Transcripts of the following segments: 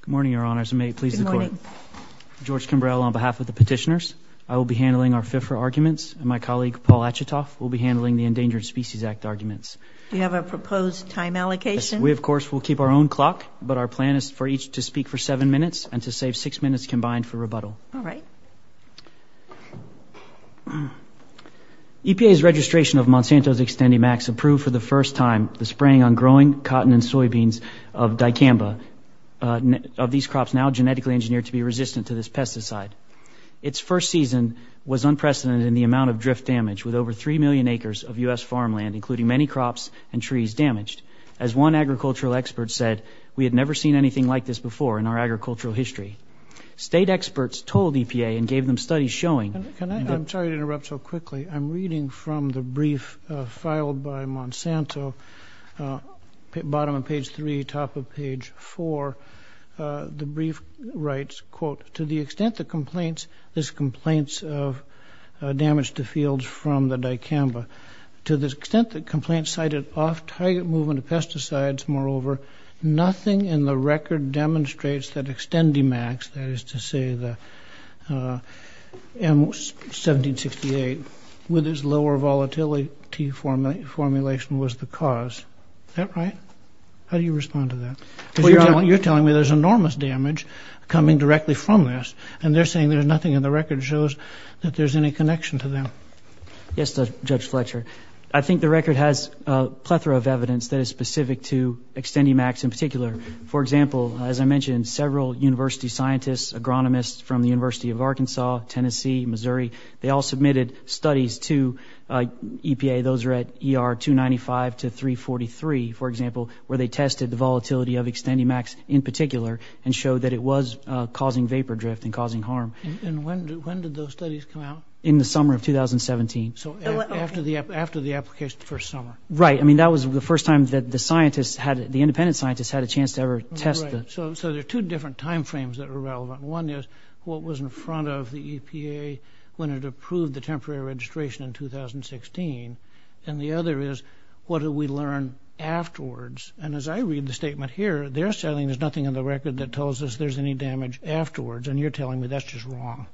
Good morning, Your Honors, and may it please the Court. Good morning. George Kimbrell, on behalf of the petitioners, I will be handling our FIFRA arguments, and my colleague Paul Achitoff will be handling the Endangered Species Act arguments. Do you have a proposed time allocation? We, of course, will keep our own clock, but our plan is for each to speak for seven minutes and to save six minutes combined for rebuttal. All right. EPA's registration of Monsanto's Xtendimax approved for the first time the spraying on growing cotton and soybeans of dicamba, of these crops now genetically engineered to be resistant to this pesticide. Its first season was unprecedented in the amount of drift damage, with over three million acres of U.S. farmland, including many crops and trees, damaged. As one agricultural expert said, we had never seen anything like this before in our agricultural history. State experts told EPA and gave them studies showing I'm sorry to interrupt so quickly. I'm reading from the brief filed by Monsanto, bottom of page three, top of page four. The brief writes, quote, to the extent the complaints, this complaints of damage to fields from the dicamba. To the extent that complaints cited off-target movement of pesticides, moreover, nothing in the record demonstrates that Xtendimax, that is to say the M1768, with its lower volatility formulation was the cause. Is that right? How do you respond to that? Because you're telling me there's enormous damage coming directly from this, and they're saying there's nothing in the record that shows that there's any connection to them. Yes, Judge Fletcher. I think the record has a plethora of evidence that is specific to Xtendimax in particular. For example, as I mentioned, several university scientists, agronomists from the University of Arkansas, Tennessee, Missouri, they all submitted studies to EPA. Those are at ER 295 to 343, for example, where they tested the volatility of Xtendimax in particular and showed that it was causing vapor drift and causing harm. And when did those studies come out? In the summer of 2017. So after the application the first summer. Right. I mean, that was the first time that the scientists had, the independent scientists had a chance to ever test it. Right. So there are two different time frames that are relevant. One is what was in front of the EPA when it approved the temporary registration in 2016, and the other is what did we learn afterwards. And as I read the statement here, they're saying there's nothing in the record that tells us there's any damage afterwards, and you're telling me that's just wrong.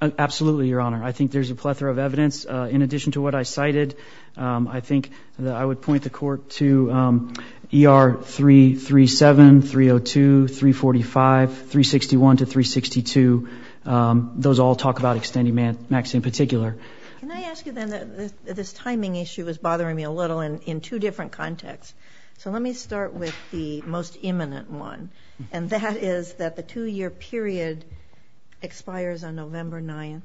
Absolutely, Your Honor. I think there's a plethora of evidence. In addition to what I cited, I think that I would point the court to ER 337, 302, 345, 361 to 362. Those all talk about Xtendimax in particular. Can I ask you then, this timing issue is bothering me a little in two different contexts. So let me start with the most imminent one, and that is that the two-year period expires on November 9th,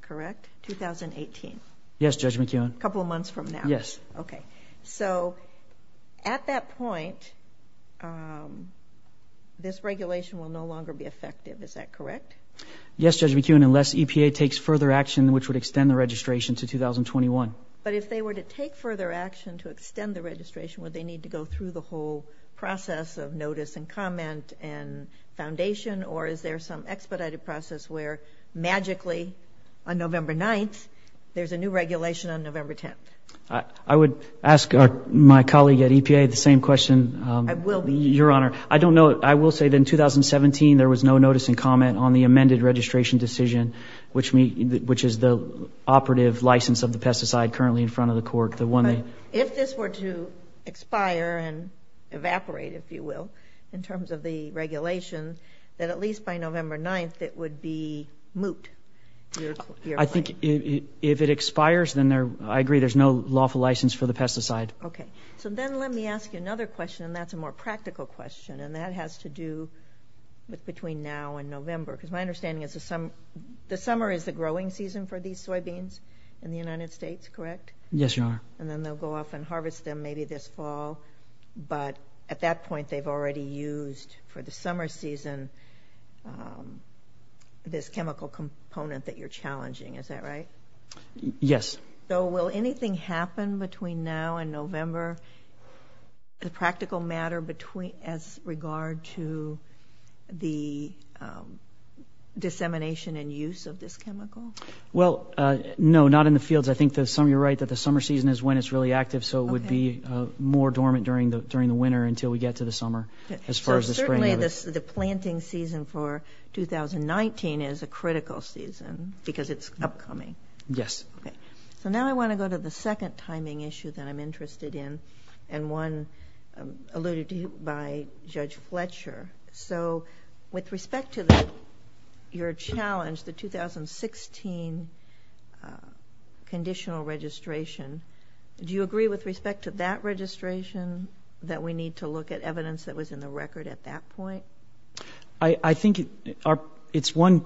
correct, 2018? Yes, Judge McKeown. A couple of months from now. Yes. Okay. So at that point, this regulation will no longer be effective, is that correct? Yes, Judge McKeown, unless EPA takes further action which would extend the registration to 2021. But if they were to take further action to extend the registration, would they need to go through the whole process of notice and comment and foundation, or is there some expedited process where magically on November 9th, there's a new regulation on November 10th? I would ask my colleague at EPA the same question. I will be. Your Honor, I don't know. I will say that in 2017 there was no notice and comment on the amended registration decision, which is the operative license of the pesticide currently in front of the court. If this were to expire and evaporate, if you will, in terms of the regulations, that at least by November 9th it would be moot. I think if it expires, then I agree there's no lawful license for the pesticide. Okay. So then let me ask you another question, and that's a more practical question, and that has to do with between now and November, because my understanding is the summer is the growing season for these soybeans in the United States, correct? Yes, Your Honor. And then they'll go off and harvest them maybe this fall, but at that point they've already used for the summer season this chemical component that you're challenging. Is that right? Yes. So will anything happen between now and November, a practical matter as regard to the dissemination and use of this chemical? Well, no, not in the fields. I think you're right that the summer season is when it's really active, so it would be more dormant during the winter until we get to the summer. So certainly the planting season for 2019 is a critical season because it's upcoming. Yes. So now I want to go to the second timing issue that I'm interested in, and one alluded to by Judge Fletcher. So with respect to your challenge, the 2016 conditional registration, do you agree with respect to that registration that we need to look at evidence that was in the record at that point? I think it's one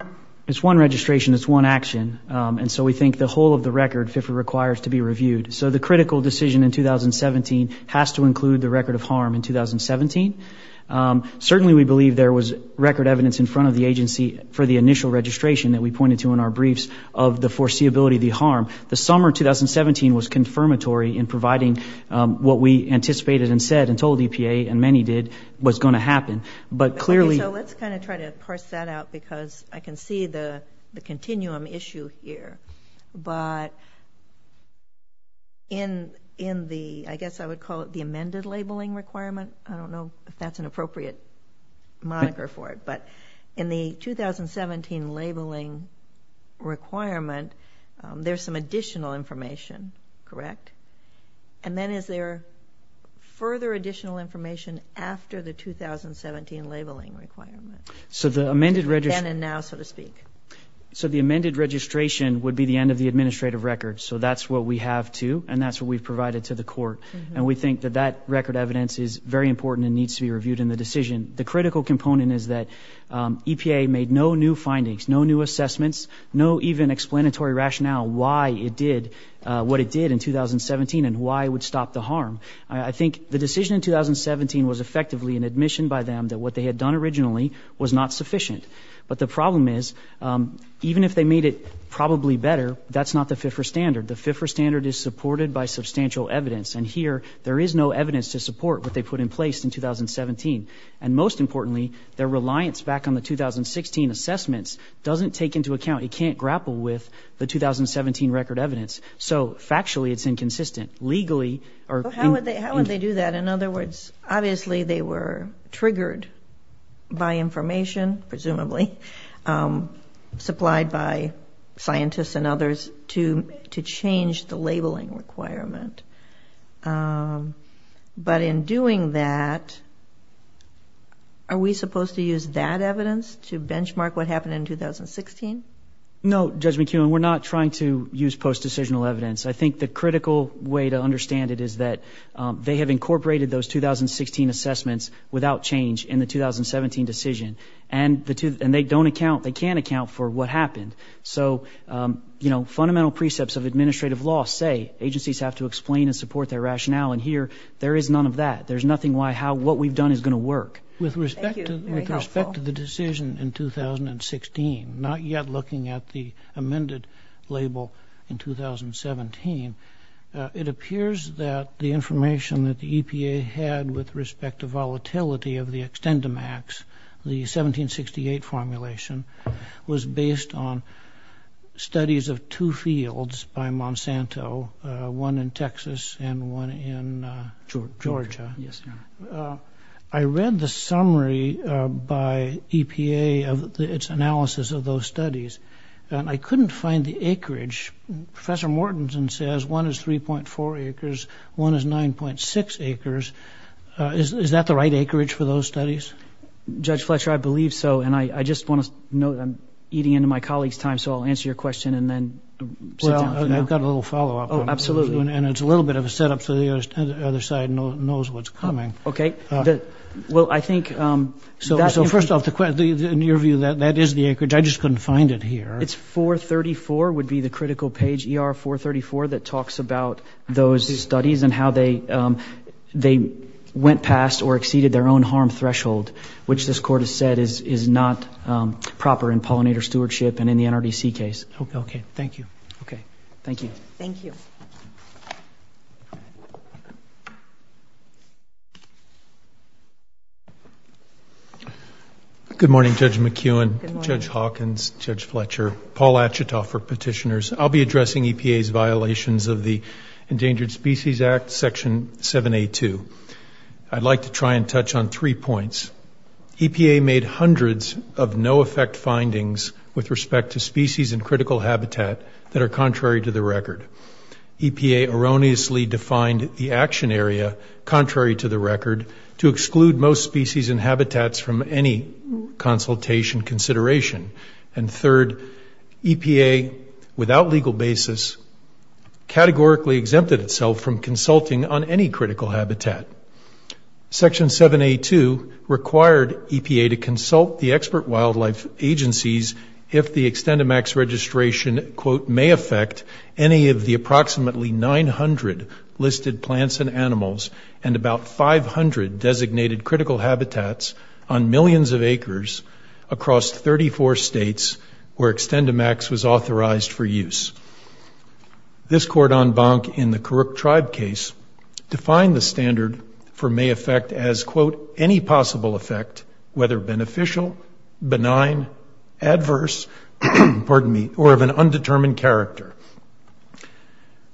registration, it's one action, and so we think the whole of the record requires to be reviewed. So the critical decision in 2017 has to include the record of harm in 2017. Certainly we believe there was record evidence in front of the agency for the initial registration that we pointed to in our briefs of the foreseeability of the harm. The summer 2017 was confirmatory in providing what we anticipated and said and told EPA and many did was going to happen. So let's kind of try to parse that out because I can see the continuum issue here. But in the, I guess I would call it the amended labeling requirement, I don't know if that's an appropriate moniker for it, but in the 2017 labeling requirement, there's some additional information, correct? And then is there further additional information after the 2017 labeling requirement? So the amended registration. Then and now, so to speak. So the amended registration would be the end of the administrative record. So that's what we have, too, and that's what we've provided to the court. And we think that that record evidence is very important and needs to be reviewed in the decision. The critical component is that EPA made no new findings, no new assessments, no even explanatory rationale why it did what it did in 2017 and why it would stop the harm. I think the decision in 2017 was effectively an admission by them that what they had done originally was not sufficient. But the problem is, even if they made it probably better, that's not the FIFRA standard. The FIFRA standard is supported by substantial evidence. And here, there is no evidence to support what they put in place in 2017. And most importantly, their reliance back on the 2016 assessments doesn't take into account, it can't grapple with the 2017 record evidence. So factually, it's inconsistent. Legally. How would they do that? In other words, obviously they were triggered by information, presumably, supplied by scientists and others to change the labeling requirement. But in doing that, are we supposed to use that evidence to benchmark what happened in 2016? No, Judge McEwen, we're not trying to use post-decisional evidence. I think the critical way to understand it is that they have incorporated those 2016 assessments without change in the 2017 decision, and they don't account, they can't account for what happened. So, you know, fundamental precepts of administrative law say agencies have to explain and support their rationale. And here, there is none of that. There's nothing why what we've done is going to work. With respect to the decision in 2016, not yet looking at the amended label in 2017, it appears that the information that the EPA had with respect to volatility of the Extendimax, the 1768 formulation, was based on studies of two fields by Monsanto, one in Texas and one in Georgia. Yes, Your Honor. I read the summary by EPA of its analysis of those studies, and I couldn't find the acreage. Professor Mortensen says one is 3.4 acres, one is 9.6 acres. Is that the right acreage for those studies? Judge Fletcher, I believe so, and I just want to note I'm eating into my colleagues' time, so I'll answer your question and then sit down for now. Well, I've got a little follow-up. Oh, absolutely. And it's a little bit of a set-up so the other side knows what's coming. Okay. Well, I think that's- So first off, in your view, that is the acreage. I just couldn't find it here. It's 434 would be the critical page, ER 434, that talks about those studies and how they went past or exceeded their own harm threshold, which this Court has said is not proper in pollinator stewardship and in the NRDC case. Okay. Thank you. Okay. Thank you. Good morning, Judge McEwen. Good morning. Judge Hawkins, Judge Fletcher, Paul Achitoff for petitioners. I'll be addressing EPA's violations of the Endangered Species Act, Section 7A2. I'd like to try and touch on three points. EPA made hundreds of no-effect findings with respect to species and critical habitat that are contrary to the record. EPA erroneously defined the action area contrary to the record to exclude most species and habitats from any consultation consideration. And third, EPA, without legal basis, categorically exempted itself from consulting on any critical habitat. Section 7A2 required EPA to consult the expert wildlife agencies if the Extend-A-Max registration, quote, may affect any of the approximately 900 listed plants and animals and about 500 designated critical habitats on millions of acres across 34 states where Extend-A-Max was authorized for use. This court en banc in the Kurok tribe case defined the standard for may affect as, quote, any possible effect, whether beneficial, benign, adverse, pardon me, or of an undetermined character.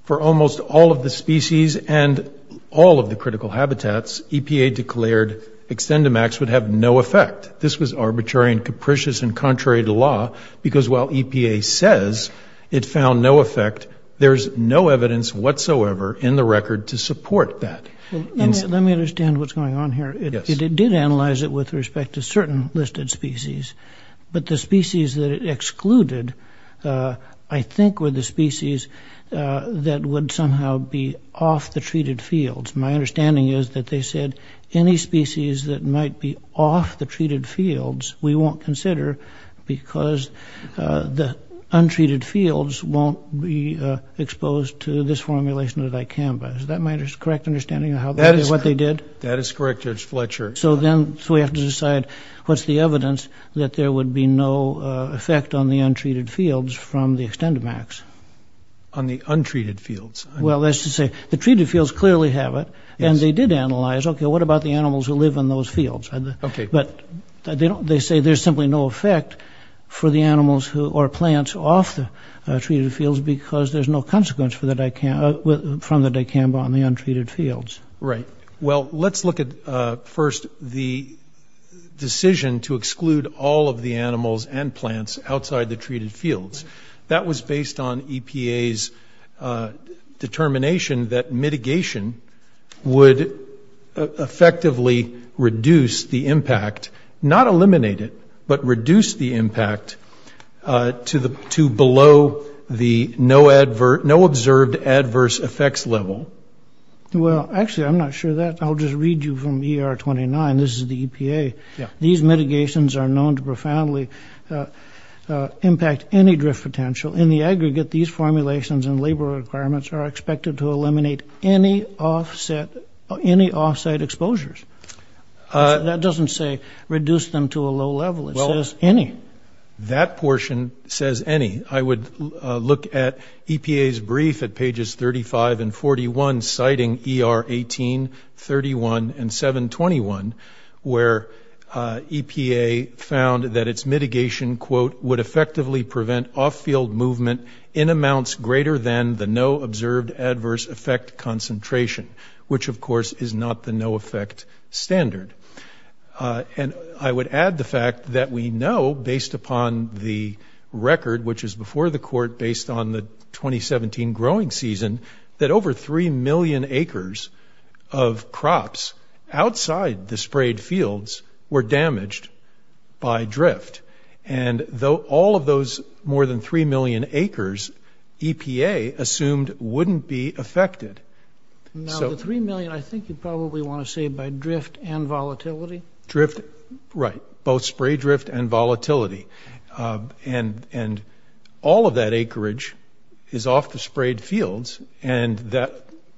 For almost all of the species and all of the critical habitats, EPA declared Extend-A-Max would have no effect. This was arbitrary and capricious and contrary to law because while EPA says it found no effect, there's no evidence whatsoever in the record to support that. Let me understand what's going on here. It did analyze it with respect to certain listed species, but the species that it excluded I think were the species that would somehow be off the treated fields. My understanding is that they said any species that might be off the treated fields we won't consider because the untreated fields won't be exposed to this formulation of dicamba. Is that my correct understanding of what they did? That is correct, Judge Fletcher. So then we have to decide what's the evidence that there would be no effect on the untreated fields from the Extend-A-Max? On the untreated fields. Well, that's to say the treated fields clearly have it, and they did analyze, okay, what about the animals who live in those fields? But they say there's simply no effect for the animals or plants off the treated fields because there's no consequence from the dicamba on the untreated fields. Right. Well, let's look at first the decision to exclude all of the animals and plants outside the treated fields. That was based on EPA's determination that mitigation would effectively reduce the impact, not eliminate it, but reduce the impact to below the no observed adverse effects level. Well, actually, I'm not sure of that. I'll just read you from ER 29. This is the EPA. These mitigations are known to profoundly impact any drift potential. In the aggregate, these formulations and labor requirements are expected to eliminate any off-site exposures. That doesn't say reduce them to a low level. It says any. That portion says any. I would look at EPA's brief at pages 35 and 41, citing ER 18, 31, and 721, where EPA found that its mitigation, quote, would effectively prevent off-field movement in amounts greater than the no observed adverse effect concentration, which, of course, is not the no effect standard. And I would add the fact that we know, based upon the record, which is before the court based on the 2017 growing season, that over 3 million acres of crops outside the sprayed fields were damaged by drift. And though all of those more than 3 million acres, EPA assumed wouldn't be affected. Now, the 3 million, I think you probably want to say by drift and volatility? Drift, right. Both spray drift and volatility. And all of that acreage is off the sprayed fields, and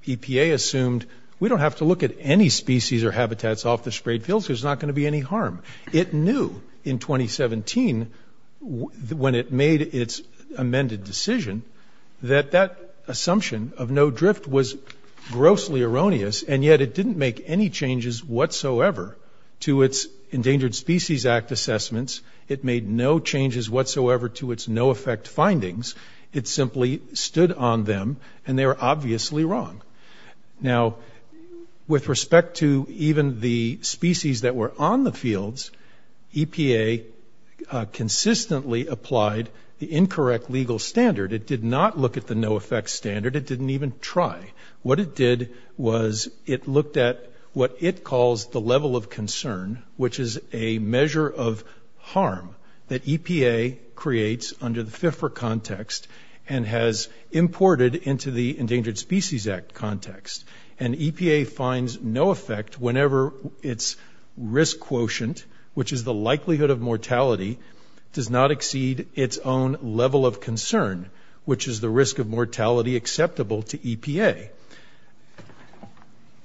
EPA assumed we don't have to look at any species or habitats off the sprayed fields. There's not going to be any harm. It knew in 2017, when it made its amended decision, that that assumption of no drift was grossly erroneous, and yet it didn't make any changes whatsoever to its Endangered Species Act assessments. It made no changes whatsoever to its no effect findings. It simply stood on them, and they were obviously wrong. Now, with respect to even the species that were on the fields, EPA consistently applied the incorrect legal standard. It did not look at the no effect standard. It didn't even try. What it did was it looked at what it calls the level of concern, which is a measure of harm that EPA creates under the FIFRA context and has imported into the Endangered Species Act context. And EPA finds no effect whenever its risk quotient, which is the likelihood of mortality, does not exceed its own level of concern, which is the risk of mortality acceptable to EPA.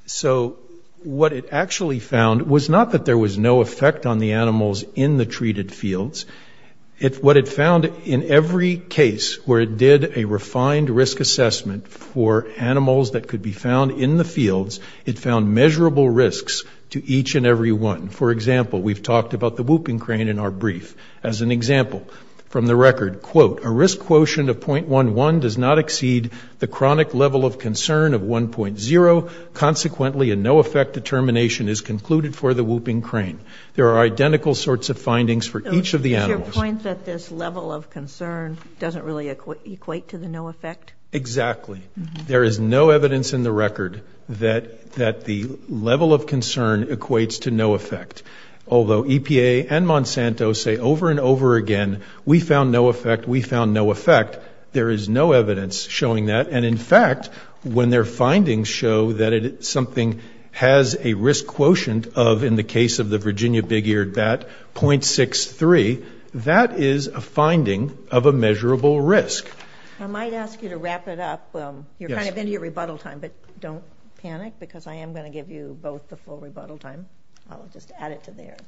So what it actually found was not that there was no effect on the animals in the treated fields. What it found in every case where it did a refined risk assessment for animals that could be found in the fields, it found measurable risks to each and every one. For example, we've talked about the whooping crane in our brief. As an example, from the record, quote, a risk quotient of .11 does not exceed the chronic level of concern of 1.0. Consequently, a no effect determination is concluded for the whooping crane. There are identical sorts of findings for each of the animals. Is your point that this level of concern doesn't really equate to the no effect? Exactly. There is no evidence in the record that the level of concern equates to no effect. Although EPA and Monsanto say over and over again, we found no effect, we found no effect, there is no evidence showing that. And in fact, when their findings show that something has a risk quotient of, in the case of the Virginia big-eared bat, .63, that is a finding of a measurable risk. I might ask you to wrap it up. You're kind of into your rebuttal time, but don't panic, because I am going to give you both the full rebuttal time. I'll just add it to theirs.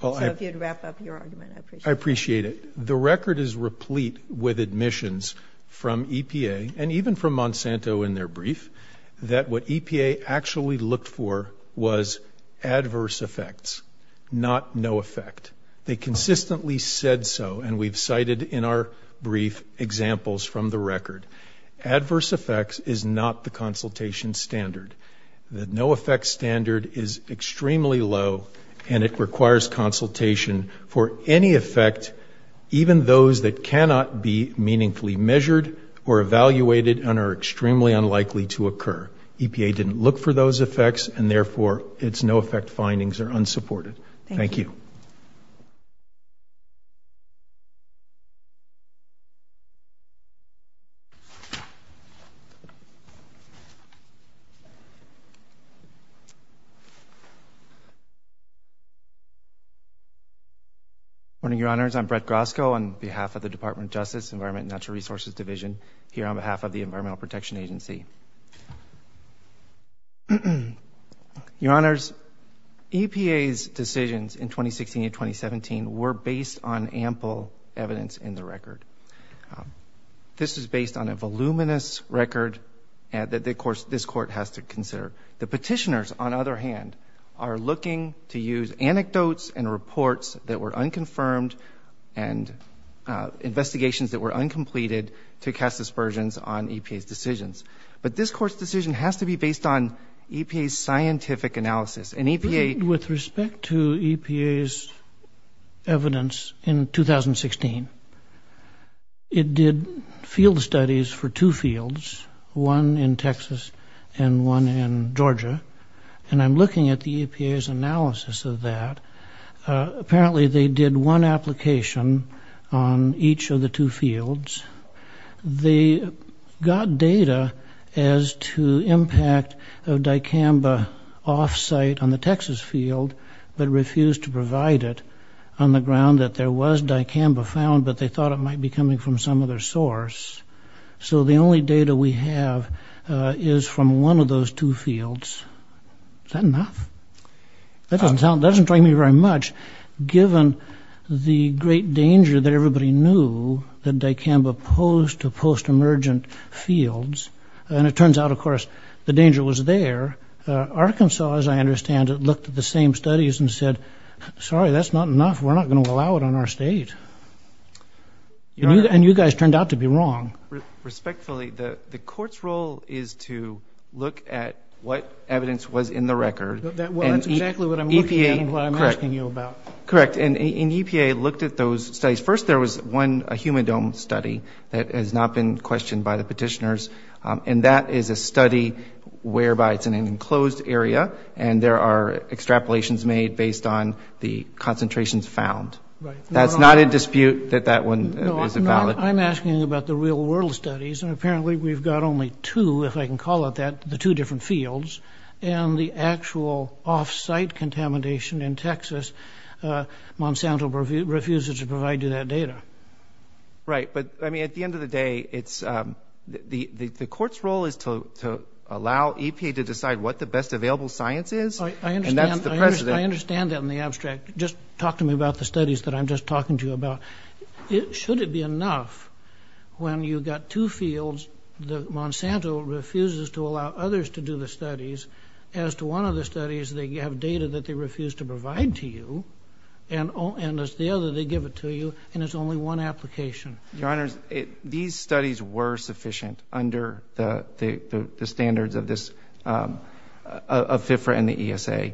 So if you'd wrap up your argument, I appreciate it. I appreciate it. The record is replete with admissions from EPA and even from Monsanto in their brief that what EPA actually looked for was adverse effects, not no effect. They consistently said so, and we've cited in our brief examples from the record. Adverse effects is not the consultation standard. The no effect standard is extremely low, and it requires consultation for any effect, even those that cannot be meaningfully measured or evaluated and are extremely unlikely to occur. EPA didn't look for those effects, and therefore its no effect findings are unsupported. Thank you. Good morning, Your Honors. I'm Brett Grosko on behalf of the Department of Justice, Environment and Natural Resources Division, here on behalf of the Environmental Protection Agency. Your Honors, EPA's decisions in 2016 and 2017 were based on ample evidence in the record. This is based on a voluminous record that this Court has to consider. The petitioners, on the other hand, are looking to use anecdotes and reports that were unconfirmed and investigations that were uncompleted to cast aspersions on EPA's decisions. But this Court's decision has to be based on EPA's scientific analysis. With respect to EPA's evidence in 2016, it did field studies for two fields, one in Texas and one in Georgia, and I'm looking at the EPA's analysis of that. Apparently they did one application on each of the two fields. They got data as to impact of dicamba off-site on the Texas field, but refused to provide it on the ground that there was dicamba found, but they thought it might be coming from some other source. So the only data we have is from one of those two fields. Is that enough? That doesn't tell me very much, given the great danger that everybody knew that dicamba posed to post-emergent fields. And it turns out, of course, the danger was there. Arkansas, as I understand it, looked at the same studies and said, sorry, that's not enough. We're not going to allow it on our state. And you guys turned out to be wrong. Respectfully, the Court's role is to look at what evidence was in the record. That's exactly what I'm looking at and what I'm asking you about. Correct. And EPA looked at those studies. First, there was a human dome study that has not been questioned by the petitioners, and that is a study whereby it's in an enclosed area and there are extrapolations made based on the concentrations found. That's not in dispute that that one is valid. I'm asking about the real-world studies, and apparently we've got only two, if I can call it that, the two different fields, and the actual off-site contamination in Texas, Monsanto refuses to provide you that data. Right. But, I mean, at the end of the day, the Court's role is to allow EPA to decide what the best available science is, and that's the precedent. I understand that in the abstract. Just talk to me about the studies that I'm just talking to you about. Should it be enough when you've got two fields, Monsanto refuses to allow others to do the studies, as to one of the studies, they have data that they refuse to provide to you, and as to the other, they give it to you, and it's only one application. Your Honors, these studies were sufficient under the standards of FFRA and the ESA.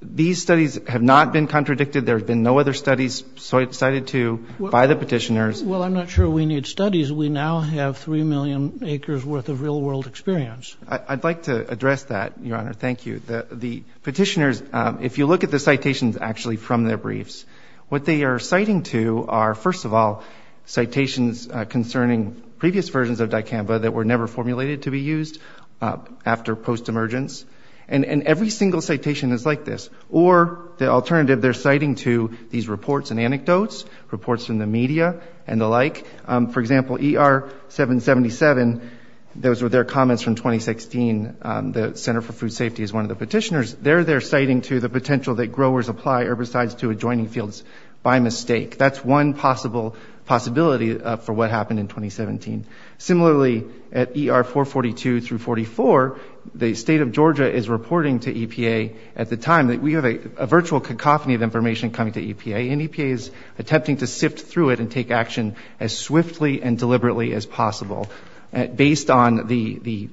These studies have not been contradicted. There have been no other studies cited to by the petitioners. Well, I'm not sure we need studies. We now have 3 million acres' worth of real-world experience. I'd like to address that, Your Honor. Thank you. The petitioners, if you look at the citations actually from their briefs, what they are citing to are, first of all, citations concerning previous versions of DICAMBA that were never formulated to be used after post-emergence. And every single citation is like this. Or, the alternative, they're citing to these reports and anecdotes, reports from the media and the like. For example, ER-777, those were their comments from 2016. The Center for Food Safety is one of the petitioners. They're there citing to the potential that growers apply herbicides to adjoining fields by mistake. That's one possibility for what happened in 2017. Similarly, at ER-442 through 44, the State of Georgia is reporting to EPA at the time. We have a virtual cacophony of information coming to EPA, and EPA is attempting to sift through it and take action as swiftly and deliberately as possible, based on the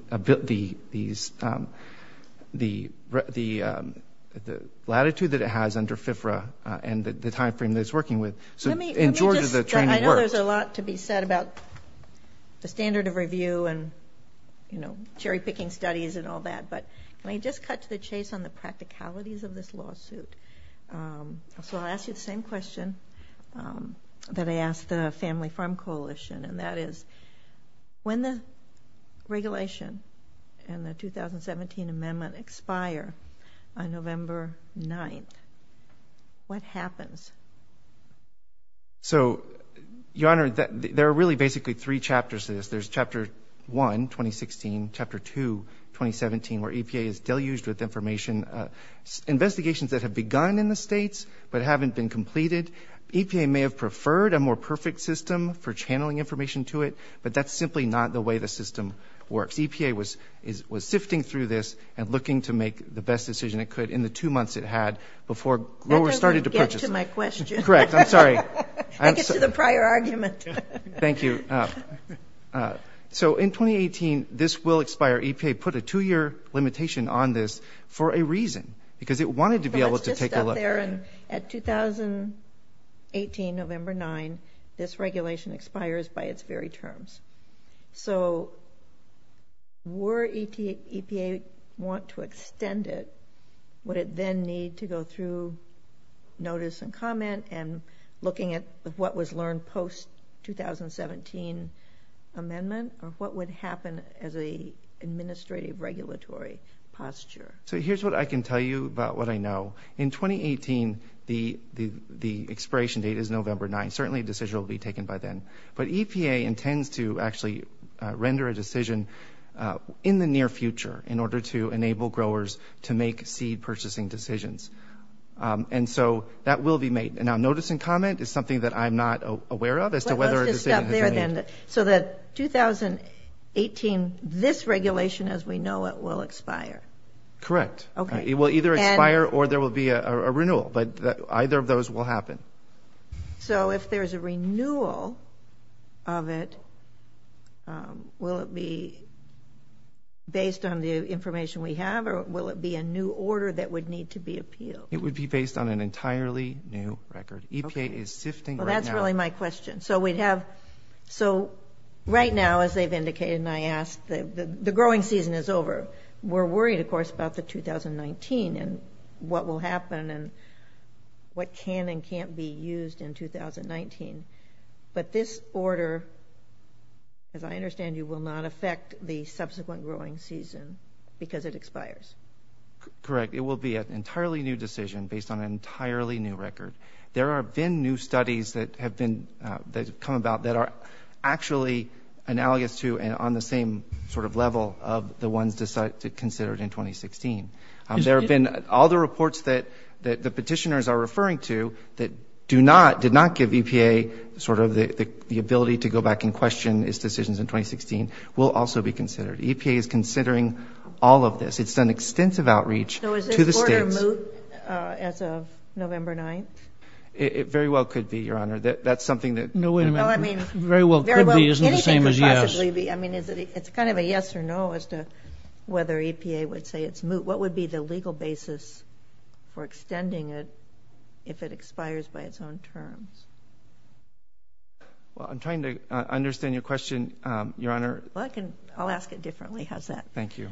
latitude that it has under FFRA and the time frame that it's working with. In Georgia, the training worked. I know there's a lot to be said about the standard of review and, you know, cherry-picking studies and all that, but can I just cut to the chase on the practicalities of this lawsuit? So I'll ask you the same question that I asked the Family Farm Coalition, and that is when the regulation and the 2017 amendment expire on November 9th, what happens? So, Your Honor, there are really basically three chapters to this. There's Chapter 1, 2016, Chapter 2, 2017, where EPA is deluged with information. Investigations that have begun in the states but haven't been completed. EPA may have preferred a more perfect system for channeling information to it, but that's simply not the way the system works. EPA was sifting through this and looking to make the best decision it could in the two months it had before growers started to purchase it. That doesn't get to my question. Correct. I'm sorry. That gets to the prior argument. Thank you. So in 2018, this will expire. EPA put a two-year limitation on this for a reason, because it wanted to be able to take a look. At 2018, November 9, this regulation expires by its very terms. So were EPA want to extend it, would it then need to go through notice and comment and looking at what was learned post-2017 amendment, or what would happen as an administrative regulatory posture? So here's what I can tell you about what I know. In 2018, the expiration date is November 9. Certainly, a decision will be taken by then. But EPA intends to actually render a decision in the near future in order to enable growers to make seed-purchasing decisions. And so that will be made. Now, notice and comment is something that I'm not aware of as to whether a decision has been made. Let's just stop there, then. So that 2018, this regulation as we know it will expire. Correct. Okay. It will either expire or there will be a renewal. But either of those will happen. So if there's a renewal of it, will it be based on the information we have, or will it be a new order that would need to be appealed? It would be based on an entirely new record. EPA is sifting right now. Well, that's really my question. So right now, as they've indicated and I asked, the growing season is over. We're worried, of course, about the 2019 and what will happen and what can and can't be used in 2019. But this order, as I understand you, will not affect the subsequent growing season because it expires. Correct. It will be an entirely new decision based on an entirely new record. There have been new studies that have come about that are actually analogous to and on the same sort of level of the ones considered in 2016. There have been all the reports that the petitioners are referring to that do not, did not give EPA sort of the ability to go back and question its decisions in 2016 will also be considered. EPA is considering all of this. It's done extensive outreach to the states. Is it moot as of November 9th? It very well could be, Your Honor. That's something that. No, wait a minute. No, I mean. Very well could be isn't the same as yes. Anything could possibly be. I mean, it's kind of a yes or no as to whether EPA would say it's moot. What would be the legal basis for extending it if it expires by its own terms? Well, I'm trying to understand your question, Your Honor. I'll ask it differently. How's that? Thank you.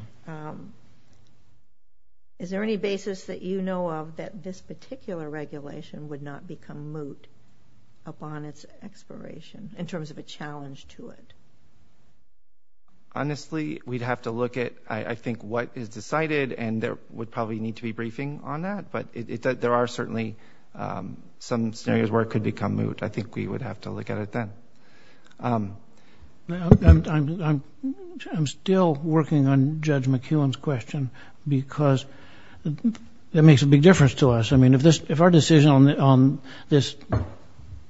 Is there any basis that you know of that this particular regulation would not become moot upon its expiration in terms of a challenge to it? Honestly, we'd have to look at, I think, what is decided, and there would probably need to be briefing on that. But there are certainly some scenarios where it could become moot. I think we would have to look at it then. I'm still working on Judge McKeown's question because that makes a big difference to us. I mean, if our decision on this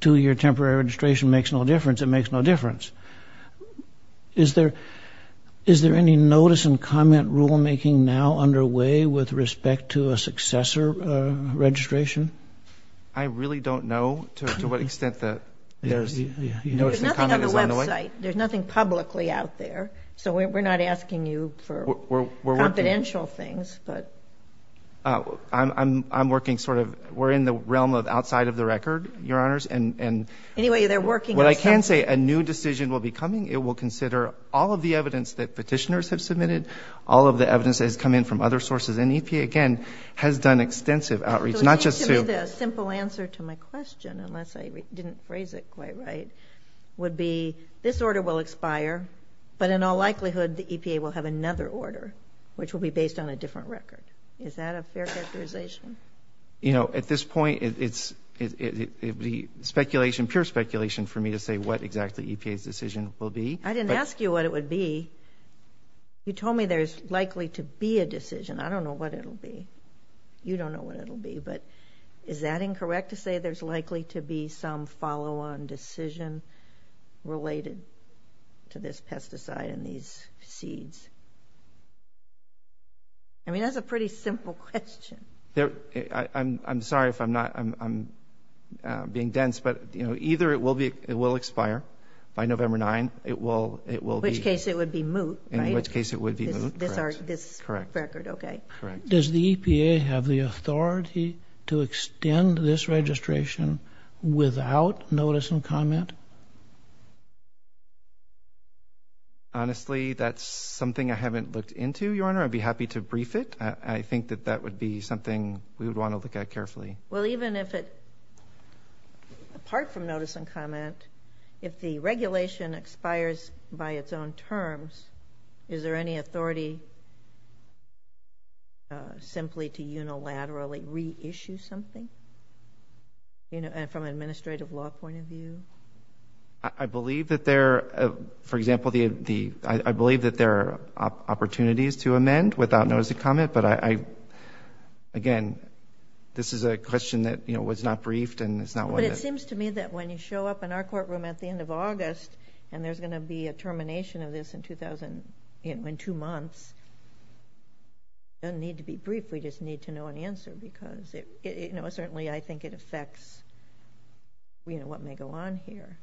two-year temporary registration makes no difference, it makes no difference. Is there any notice and comment rulemaking now underway with respect to a successor registration? I really don't know to what extent that. There's nothing on the website. There's nothing publicly out there. So we're not asking you for confidential things. I'm working sort of we're in the realm of outside of the record, Your Honors. Anyway, they're working on something. What I can say, a new decision will be coming. It will consider all of the evidence that petitioners have submitted, all of the evidence that has come in from other sources. And EPA, again, has done extensive outreach, not just to. I think the simple answer to my question, unless I didn't phrase it quite right, would be this order will expire, but in all likelihood the EPA will have another order, which will be based on a different record. Is that a fair characterization? You know, at this point, it would be speculation, pure speculation for me to say what exactly EPA's decision will be. I didn't ask you what it would be. You told me there's likely to be a decision. I don't know what it will be. You don't know what it will be. But is that incorrect to say there's likely to be some follow-on decision related to this pesticide and these seeds? I mean, that's a pretty simple question. I'm sorry if I'm being dense, but, you know, either it will expire by November 9th, it will be. In which case it would be moot, right? This record, okay. Does the EPA have the authority to extend this registration without notice and comment? Honestly, that's something I haven't looked into, Your Honor. I'd be happy to brief it. I think that that would be something we would want to look at carefully. Well, even if it, apart from notice and comment, if the regulation expires by its own terms, is there any authority simply to unilaterally reissue something from an administrative law point of view? I believe that there are opportunities to amend without notice and comment. But, again, this is a question that was not briefed. But it seems to me that when you show up in our courtroom at the end of August and there's going to be a termination of this in two months, it doesn't need to be brief. We just need to know an answer because, you know, certainly I think it affects what may go on here.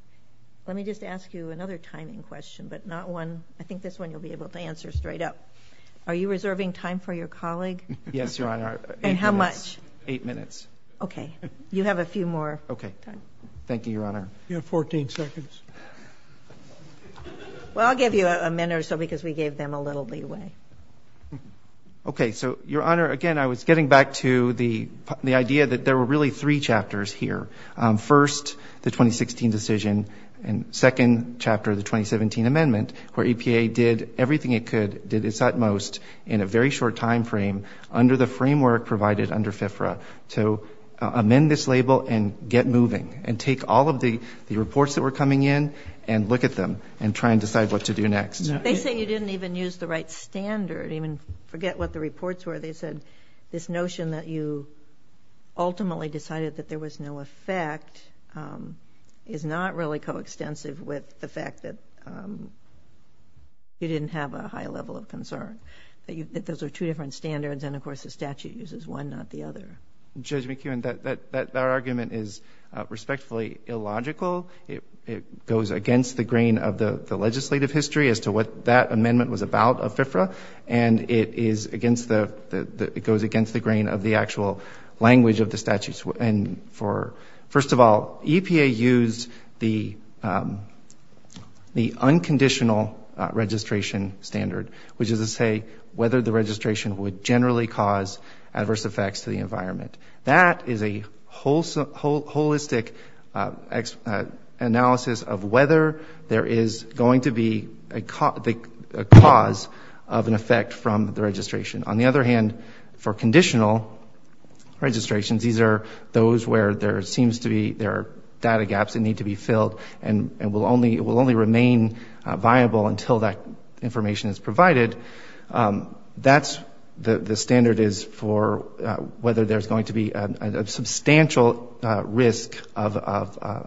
Let me just ask you another timing question, but not one. I think this one you'll be able to answer straight up. Are you reserving time for your colleague? Yes, Your Honor. And how much? Eight minutes. Okay. You have a few more. Okay. Thank you, Your Honor. You have 14 seconds. Well, I'll give you a minute or so because we gave them a little leeway. Okay. So, Your Honor, again, I was getting back to the idea that there were really three chapters here. First, the 2016 decision, and second chapter, the 2017 amendment, where EPA did everything it could, did its utmost in a very short time frame under the framework provided under FFRA to amend this label and get moving and take all of the reports that were coming in and look at them and try and decide what to do next. They say you didn't even use the right standard, even forget what the reports were. They said this notion that you ultimately decided that there was no effect is not really coextensive with the fact that you didn't have a high level of concern. Those are two different standards, and, of course, the statute uses one, not the other. Judge McEwen, that argument is respectfully illogical. It goes against the grain of the legislative history as to what that amendment was about of FFRA, and it goes against the grain of the actual language of the statute. First of all, EPA used the unconditional registration standard, which is to say whether the registration would generally cause adverse effects to the environment. That is a holistic analysis of whether there is going to be a cause of an effect from the registration. On the other hand, for conditional registrations, these are those where there seems to be there are data gaps that need to be filled and will only remain viable until that information is provided. That's the standard is for whether there's going to be a substantial risk of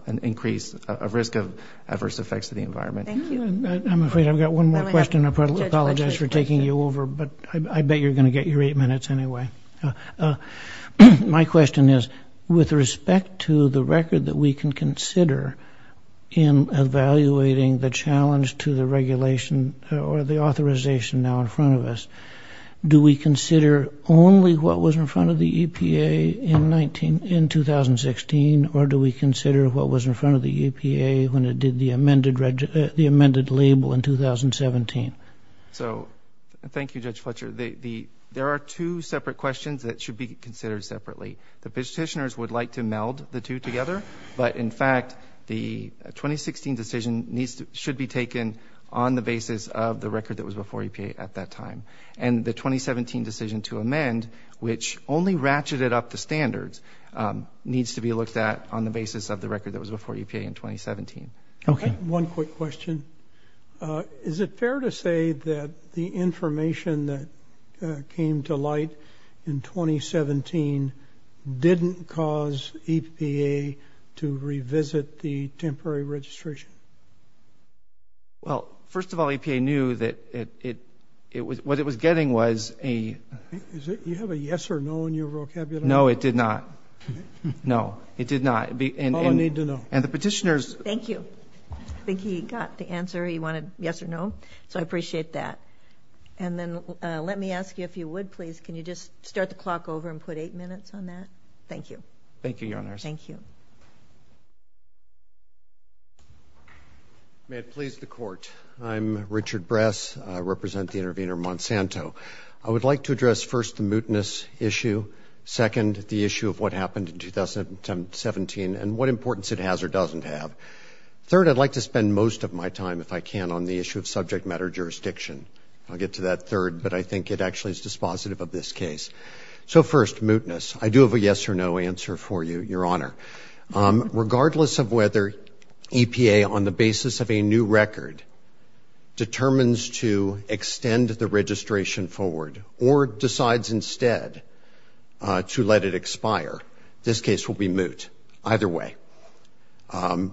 an increase, a risk of adverse effects to the environment. I'm afraid I've got one more question. I apologize for taking you over, but I bet you're going to get your eight minutes anyway. My question is, with respect to the record that we can consider in evaluating the challenge to the regulation or the authorization now in front of us, do we consider only what was in front of the EPA in 2016, or do we consider what was in front of the EPA when it did the amended label in 2017? Thank you, Judge Fletcher. There are two separate questions that should be considered separately. The petitioners would like to meld the two together, but, in fact, the 2016 decision should be taken on the basis of the record that was before EPA at that time. And the 2017 decision to amend, which only ratcheted up the standards, needs to be looked at on the basis of the record that was before EPA in 2017. Okay. One quick question. Is it fair to say that the information that came to light in 2017 didn't cause EPA to revisit the temporary registration? Well, first of all, EPA knew that what it was getting was a- You have a yes or no in your vocabulary? No, it did not. No, it did not. Oh, I need to know. And the petitioners- Thank you. I think he got the answer. He wanted yes or no, so I appreciate that. And then let me ask you, if you would, please, can you just start the clock over and put eight minutes on that? Thank you. Thank you, Your Honors. Thank you. May it please the Court. I'm Richard Bress. I represent the intervener, Monsanto. I would like to address, first, the mootness issue, second, the issue of what happened in 2017 and what importance it has or doesn't have. Third, I'd like to spend most of my time, if I can, on the issue of subject matter jurisdiction. I'll get to that third, but I think it actually is dispositive of this case. So, first, mootness. I do have a yes or no answer for you, Your Honor. Regardless of whether EPA, on the basis of a new record, determines to extend the registration forward or decides instead to let it expire, this case will be moot either way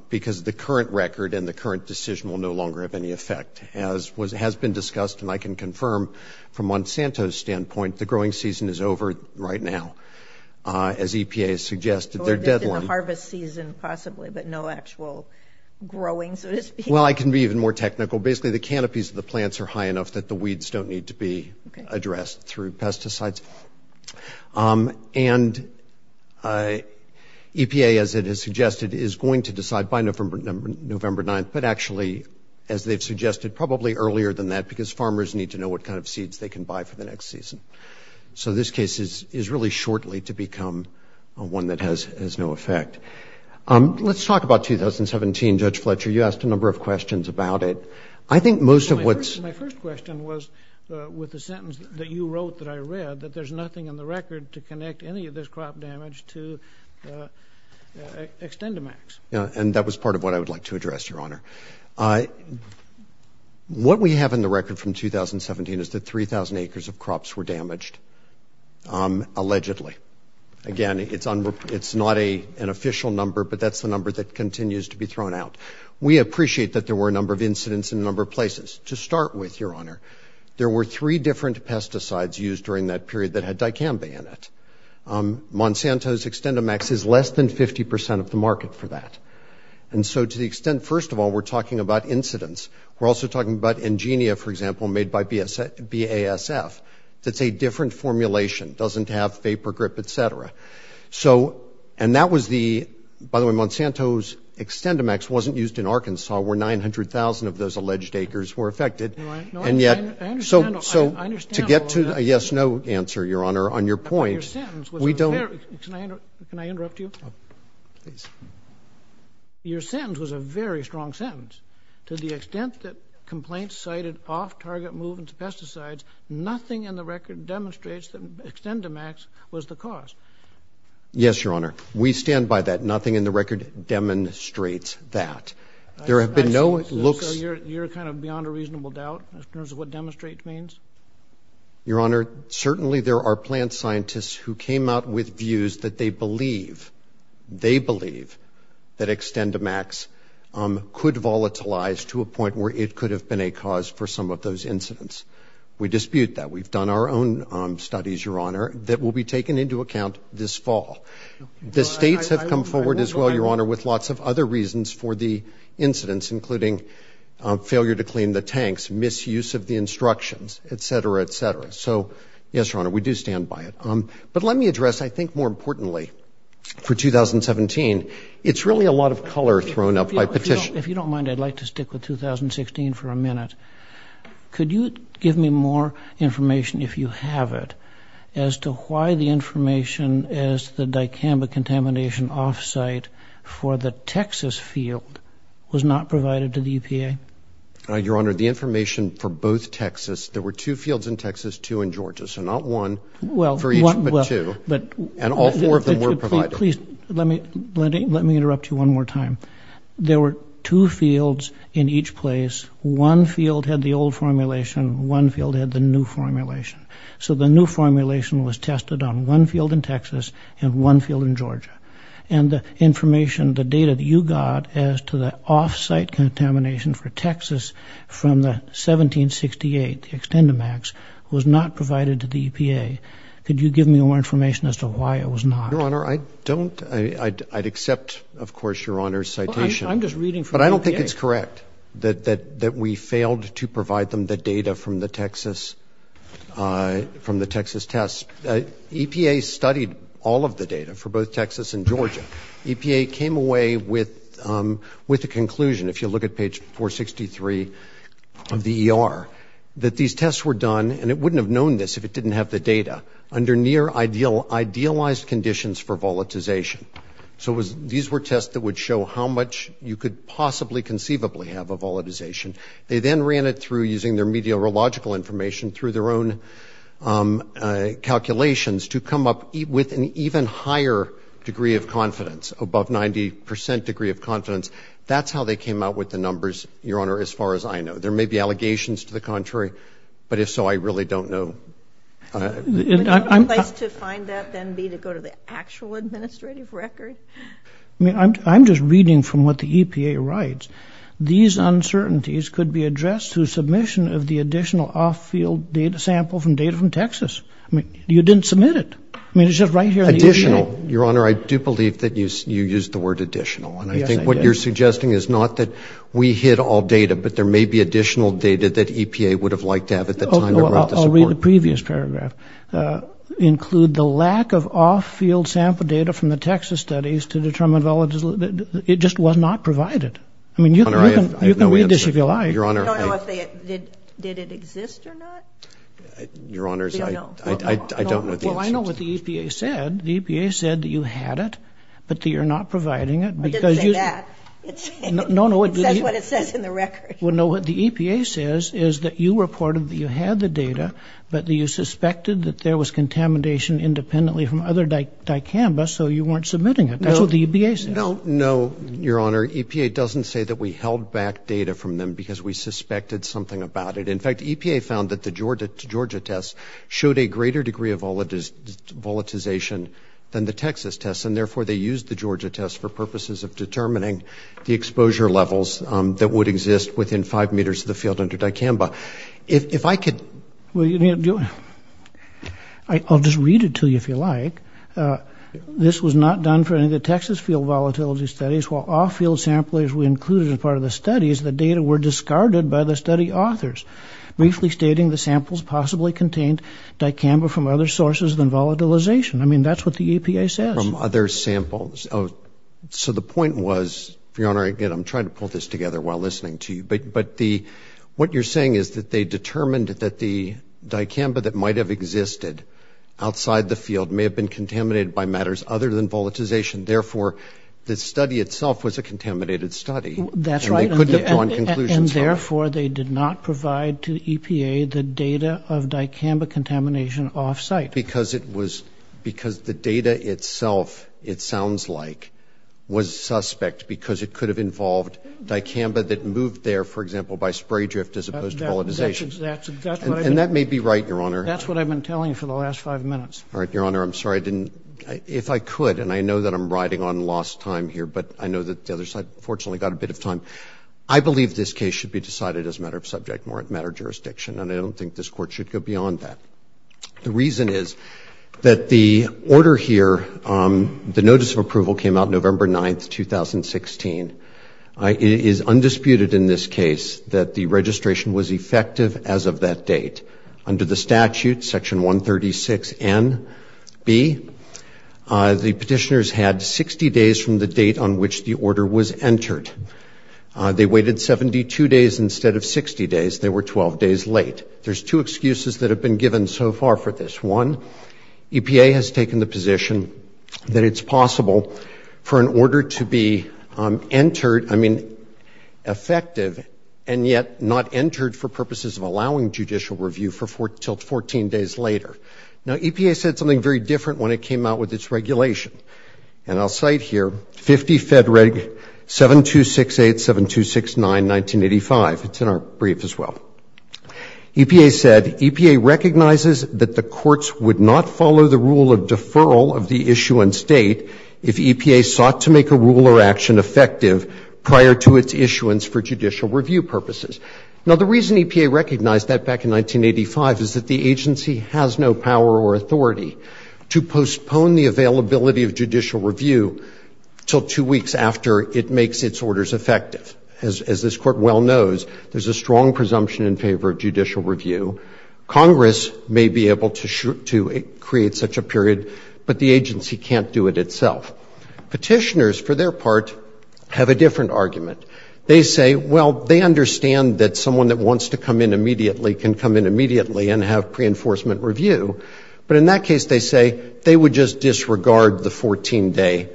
because the current record and the current decision will no longer have any effect. As has been discussed, and I can confirm from Monsanto's standpoint, the growing season is over right now, as EPA has suggested their deadline. Or just in the harvest season, possibly, but no actual growing, so to speak. Well, I can be even more technical. Basically, the canopies of the plants are high enough that the weeds don't need to be addressed through pesticides. And EPA, as it has suggested, is going to decide by November 9th, but actually, as they've suggested, probably earlier than that because farmers need to know what kind of seeds they can buy for the next season. So this case is really shortly to become one that has no effect. Let's talk about 2017, Judge Fletcher. You asked a number of questions about it. I think most of what's— My first question was with the sentence that you wrote that I read, that there's nothing in the record to connect any of this crop damage to extend-to-max. Yeah, and that was part of what I would like to address, Your Honor. What we have in the record from 2017 is that 3,000 acres of crops were damaged, allegedly. Again, it's not an official number, but that's the number that continues to be thrown out. We appreciate that there were a number of incidents in a number of places. To start with, Your Honor, there were three different pesticides used during that period that had dicamba in it. Monsanto's extend-to-max is less than 50 percent of the market for that. And so to the extent—first of all, we're talking about incidents. We're also talking about Engenia, for example, made by BASF. That's a different formulation. It doesn't have vapor grip, et cetera. So—and that was the—by the way, Monsanto's extend-to-max wasn't used in Arkansas, where 900,000 of those alleged acres were affected. And yet— I understand— So to get to the yes-no answer, Your Honor, on your point, we don't— Can I interrupt you? Please. Your sentence was a very strong sentence. To the extent that complaints cited off-target movements of pesticides, nothing in the record demonstrates that extend-to-max was the cause. Yes, Your Honor. We stand by that. Nothing in the record demonstrates that. There have been no looks— So you're kind of beyond a reasonable doubt in terms of what demonstrate means? Your Honor, certainly there are plant scientists who came out with views that they believe— to a point where it could have been a cause for some of those incidents. We dispute that. We've done our own studies, Your Honor, that will be taken into account this fall. The states have come forward as well, Your Honor, with lots of other reasons for the incidents, including failure to clean the tanks, misuse of the instructions, et cetera, et cetera. So, yes, Your Honor, we do stand by it. But let me address, I think more importantly, for 2017, it's really a lot of color thrown up by petition— if you don't mind, I'd like to stick with 2016 for a minute. Could you give me more information, if you have it, as to why the information as the dicamba contamination off-site for the Texas field was not provided to the EPA? Your Honor, the information for both Texas—there were two fields in Texas, two in Georgia, so not one for each but two, and all four of them were provided. Please, let me interrupt you one more time. There were two fields in each place. One field had the old formulation. One field had the new formulation. So the new formulation was tested on one field in Texas and one field in Georgia. And the information, the data that you got as to the off-site contamination for Texas from the 1768, the extendamax, was not provided to the EPA. Could you give me more information as to why it was not? Your Honor, I don't—I'd accept, of course, Your Honor's citation. I'm just reading from the EPA. But I don't think it's correct that we failed to provide them the data from the Texas tests. EPA studied all of the data for both Texas and Georgia. EPA came away with a conclusion, if you look at page 463 of the ER, that these tests were done, and it wouldn't have known this if it didn't have the data, under near-idealized conditions for volatilization. So these were tests that would show how much you could possibly conceivably have of volatilization. They then ran it through using their meteorological information through their own calculations to come up with an even higher degree of confidence, above 90 percent degree of confidence. That's how they came out with the numbers, Your Honor, as far as I know. There may be allegations to the contrary, but if so, I really don't know. Would a place to find that then be to go to the actual administrative record? I mean, I'm just reading from what the EPA writes. These uncertainties could be addressed through submission of the additional off-field data sample from data from Texas. I mean, you didn't submit it. I mean, it's just right here on the EPA. Additional. Your Honor, I do believe that you used the word additional. Yes, I did. What I'm suggesting is not that we hid all data, but there may be additional data that EPA would have liked to have at the time of writing the report. I'll read the previous paragraph. Include the lack of off-field sample data from the Texas studies to determine volatilization. It just was not provided. I mean, you can read this if you like. Your Honor, I don't know if they did it exist or not. Your Honors, I don't know the answer to that. Well, I know what the EPA said. The EPA said that you had it, but that you're not providing it. I didn't say that. No, no. It says what it says in the record. Well, no, what the EPA says is that you reported that you had the data, but that you suspected that there was contamination independently from other dicamba, so you weren't submitting it. That's what the EPA says. No, no, Your Honor. EPA doesn't say that we held back data from them because we suspected something about it. In fact, EPA found that the Georgia tests showed a greater degree of volatilization than the Texas tests, and therefore they used the Georgia tests for purposes of determining the exposure levels that would exist within five meters of the field under dicamba. If I could. I'll just read it to you if you like. This was not done for any of the Texas field volatility studies. While all field samplers were included as part of the studies, the data were discarded by the study authors, briefly stating the samples possibly contained dicamba from other sources than volatilization. I mean, that's what the EPA says. From other samples. So the point was, Your Honor, again, I'm trying to pull this together while listening to you, but what you're saying is that they determined that the dicamba that might have existed outside the field may have been contaminated by matters other than volatilization. Therefore, the study itself was a contaminated study. That's right. And they couldn't have drawn conclusions from it. Because the data itself, it sounds like, was suspect because it could have involved dicamba that moved there, for example, by spray drift as opposed to volatilization. And that may be right, Your Honor. That's what I've been telling you for the last five minutes. All right, Your Honor. I'm sorry I didn't. If I could, and I know that I'm riding on lost time here, but I know that the other side fortunately got a bit of time. I believe this case should be decided as a matter of subject, more a matter of jurisdiction, and I don't think this Court should go beyond that. The reason is that the order here, the notice of approval came out November 9, 2016. It is undisputed in this case that the registration was effective as of that date. Under the statute, Section 136NB, the petitioners had 60 days from the date on which the order was entered. They waited 72 days instead of 60 days. They were 12 days late. There's two excuses that have been given so far for this. One, EPA has taken the position that it's possible for an order to be entered, I mean, effective, and yet not entered for purposes of allowing judicial review until 14 days later. Now, EPA said something very different when it came out with its regulation, and I'll cite here, 50 Fed Reg 7268-7269-1985. It's in our brief as well. EPA said, EPA recognizes that the courts would not follow the rule of deferral of the issuance date if EPA sought to make a rule or action effective prior to its issuance for judicial review purposes. Now, the reason EPA recognized that back in 1985 is that the agency has no power or authority to postpone the availability of judicial review until two weeks after it makes its orders effective. As this Court well knows, there's a strong presumption in favor of judicial review. Congress may be able to create such a period, but the agency can't do it itself. Petitioners, for their part, have a different argument. They say, well, they understand that someone that wants to come in immediately can come in immediately and have preenforcement review. But in that case, they say they would just disregard the 14-day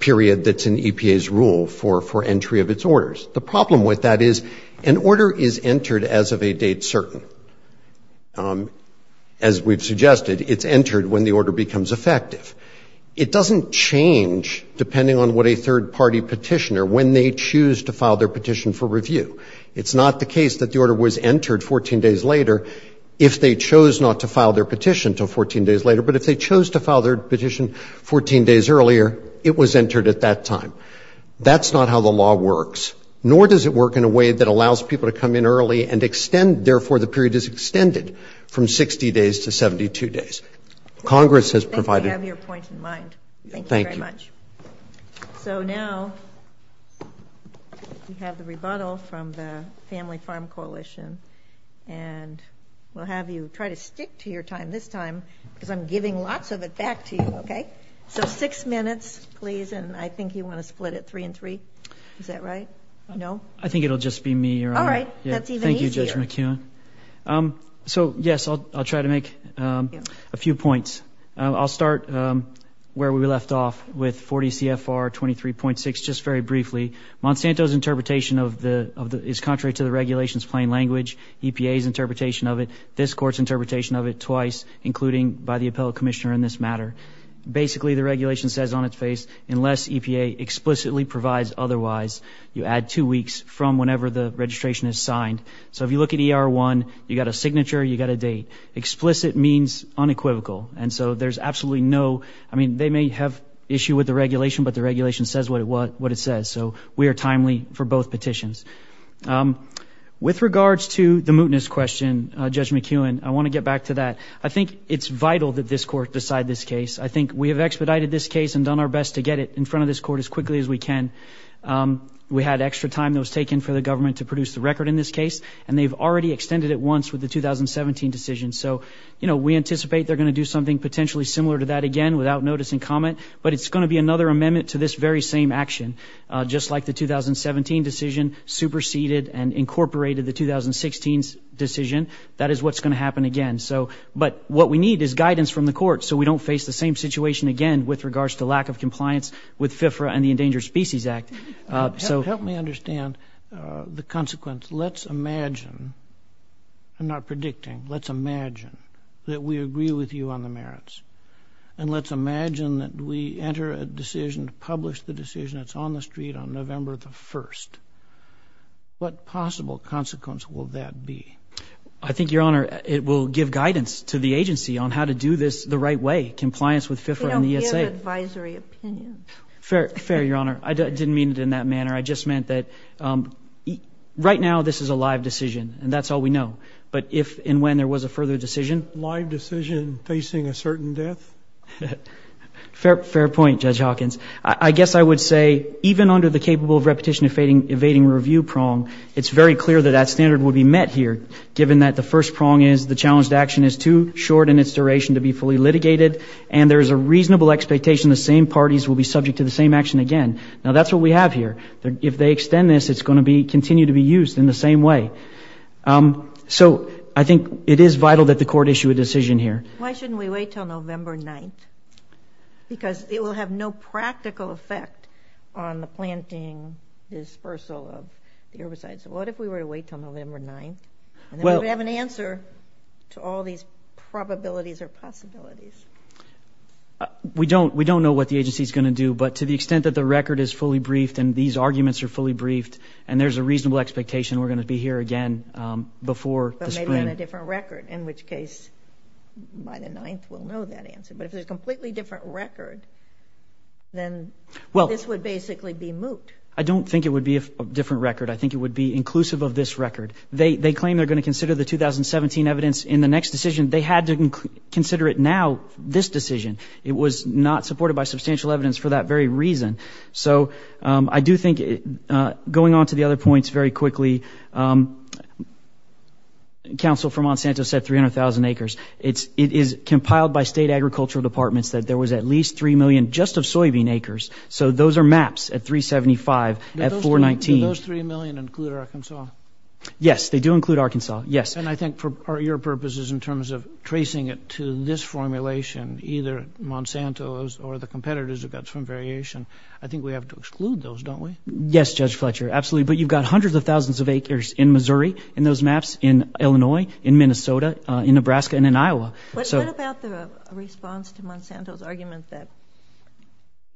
period that's in EPA's rule for entry of its orders. The problem with that is an order is entered as of a date certain. As we've suggested, it's entered when the order becomes effective. It doesn't change, depending on what a third-party petitioner, when they choose to file their petition for review. It's not the case that the order was entered 14 days later if they chose not to file their petition until 14 days later, but if they chose to file their petition 14 days earlier, it was entered at that time. That's not how the law works, nor does it work in a way that allows people to come in early and extend. Therefore, the period is extended from 60 days to 72 days. Congress has provided ---- Thank you. I have your point in mind. Thank you very much. So now we have the rebuttal from the Family Farm Coalition, and we'll have you try to stick to your time this time because I'm giving lots of it back to you, okay? So six minutes, please, and I think you want to split it three and three. Is that right? No? I think it will just be me, Your Honor. All right. That's even easier. Thank you, Judge McKeon. So, yes, I'll try to make a few points. I'll start where we left off with 40 CFR 23.6 just very briefly. Monsanto's interpretation is contrary to the regulation's plain language. EPA's interpretation of it, this Court's interpretation of it twice, including by the appellate commissioner in this matter. Basically, the regulation says on its face, unless EPA explicitly provides otherwise, you add two weeks from whenever the registration is signed. So if you look at ER1, you've got a signature, you've got a date. Explicit means unequivocal. And so there's absolutely no, I mean, they may have issue with the regulation, but the regulation says what it says. So we are timely for both petitions. With regards to the mootness question, Judge McKeon, I want to get back to that. I think it's vital that this Court decide this case. I think we have expedited this case and done our best to get it in front of this Court as quickly as we can. We had extra time that was taken for the government to produce the record in this case, and they've already extended it once with the 2017 decision. So, you know, we anticipate they're going to do something potentially similar to that again without notice and comment, but it's going to be another amendment to this very same action. Just like the 2017 decision superseded and incorporated the 2016 decision, that is what's going to happen again. But what we need is guidance from the Court so we don't face the same situation again with regards to lack of compliance with FIFRA and the Endangered Species Act. Help me understand the consequence. Let's imagine, I'm not predicting, let's imagine that we agree with you on the merits, and let's imagine that we enter a decision to publish the decision that's on the street on November the 1st. What possible consequence will that be? I think, Your Honor, it will give guidance to the agency on how to do this the right way, compliance with FIFRA and the ESA. We don't give advisory opinions. Fair, Your Honor. I didn't mean it in that manner. I just meant that right now this is a live decision, and that's all we know. But if and when there was a further decision. Live decision facing a certain death? Fair point, Judge Hawkins. I guess I would say even under the capable of repetition evading review prong, it's very clear that that standard would be met here, given that the first prong is the challenged action is too short in its duration to be fully litigated, and there is a reasonable expectation the same parties will be subject to the same action again. Now, that's what we have here. If they extend this, it's going to continue to be used in the same way. So I think it is vital that the Court issue a decision here. Why shouldn't we wait until November 9th? Because it will have no practical effect on the planting dispersal of the herbicides. What if we were to wait until November 9th? And then we would have an answer to all these probabilities or possibilities. We don't know what the agency is going to do, but to the extent that the record is fully briefed and these arguments are fully briefed and there's a reasonable expectation we're going to be here again before the spring. But maybe on a different record, in which case by the 9th we'll know that answer. But if there's a completely different record, then this would basically be moot. I don't think it would be a different record. I think it would be inclusive of this record. They claim they're going to consider the 2017 evidence in the next decision. They had to consider it now, this decision. It was not supported by substantial evidence for that very reason. So I do think going on to the other points very quickly, counsel for Monsanto said 300,000 acres. It is compiled by state agricultural departments that there was at least 3 million just of soybean acres. So those are maps at 375, at 419. So those 3 million include Arkansas? Yes, they do include Arkansas, yes. And I think for your purposes in terms of tracing it to this formulation, either Monsanto or the competitors have got some variation. I think we have to exclude those, don't we? Yes, Judge Fletcher, absolutely. But you've got hundreds of thousands of acres in Missouri in those maps, in Illinois, in Minnesota, in Nebraska, and in Iowa. What about the response to Monsanto's argument that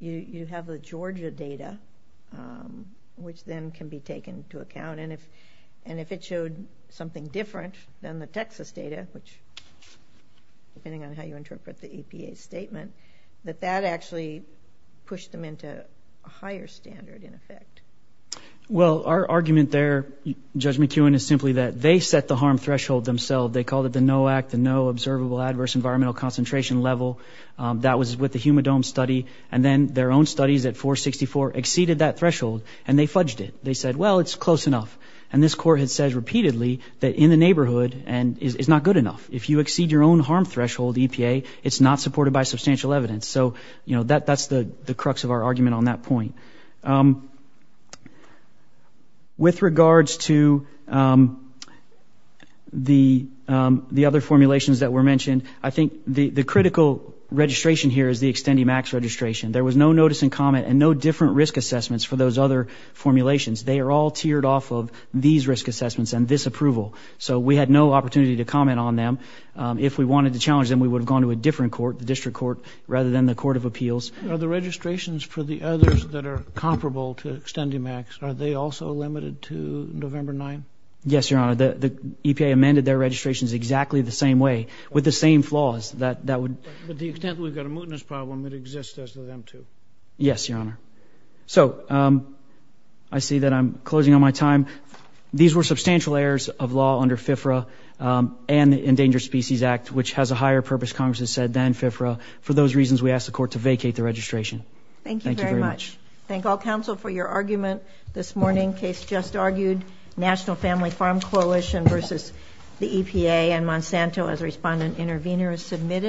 you have the Georgia data, which then can be taken into account, and if it showed something different than the Texas data, which depending on how you interpret the APA statement, that that actually pushed them into a higher standard in effect? Well, our argument there, Judge McEwen, is simply that they set the harm threshold themselves. They called it the NOAC, the No Observable Adverse Environmental Concentration level. That was with the humidome study. And then their own studies at 464 exceeded that threshold, and they fudged it. They said, well, it's close enough. And this court has said repeatedly that in the neighborhood is not good enough. If you exceed your own harm threshold, EPA, it's not supported by substantial evidence. So, you know, that's the crux of our argument on that point. With regards to the other formulations that were mentioned, I think the critical registration here is the extended max registration. There was no notice and comment and no different risk assessments for those other formulations. They are all tiered off of these risk assessments and this approval. So we had no opportunity to comment on them. If we wanted to challenge them, we would have gone to a different court, the district court, rather than the court of appeals. Are the registrations for the others that are comparable to extended max, are they also limited to November 9th? Yes, Your Honor. The EPA amended their registrations exactly the same way with the same flaws. But the extent that we've got a mootness problem, it exists as the M2. Yes, Your Honor. So I see that I'm closing on my time. These were substantial errors of law under FIFRA and the Endangered Species Act, which has a higher purpose, Congress has said, than FIFRA. For those reasons, we ask the court to vacate the registration. Thank you very much. Thank you very much. Thank all counsel for your argument this morning. Case just argued, National Family Farm Coalition versus the EPA, and Monsanto as a respondent intervener is submitted.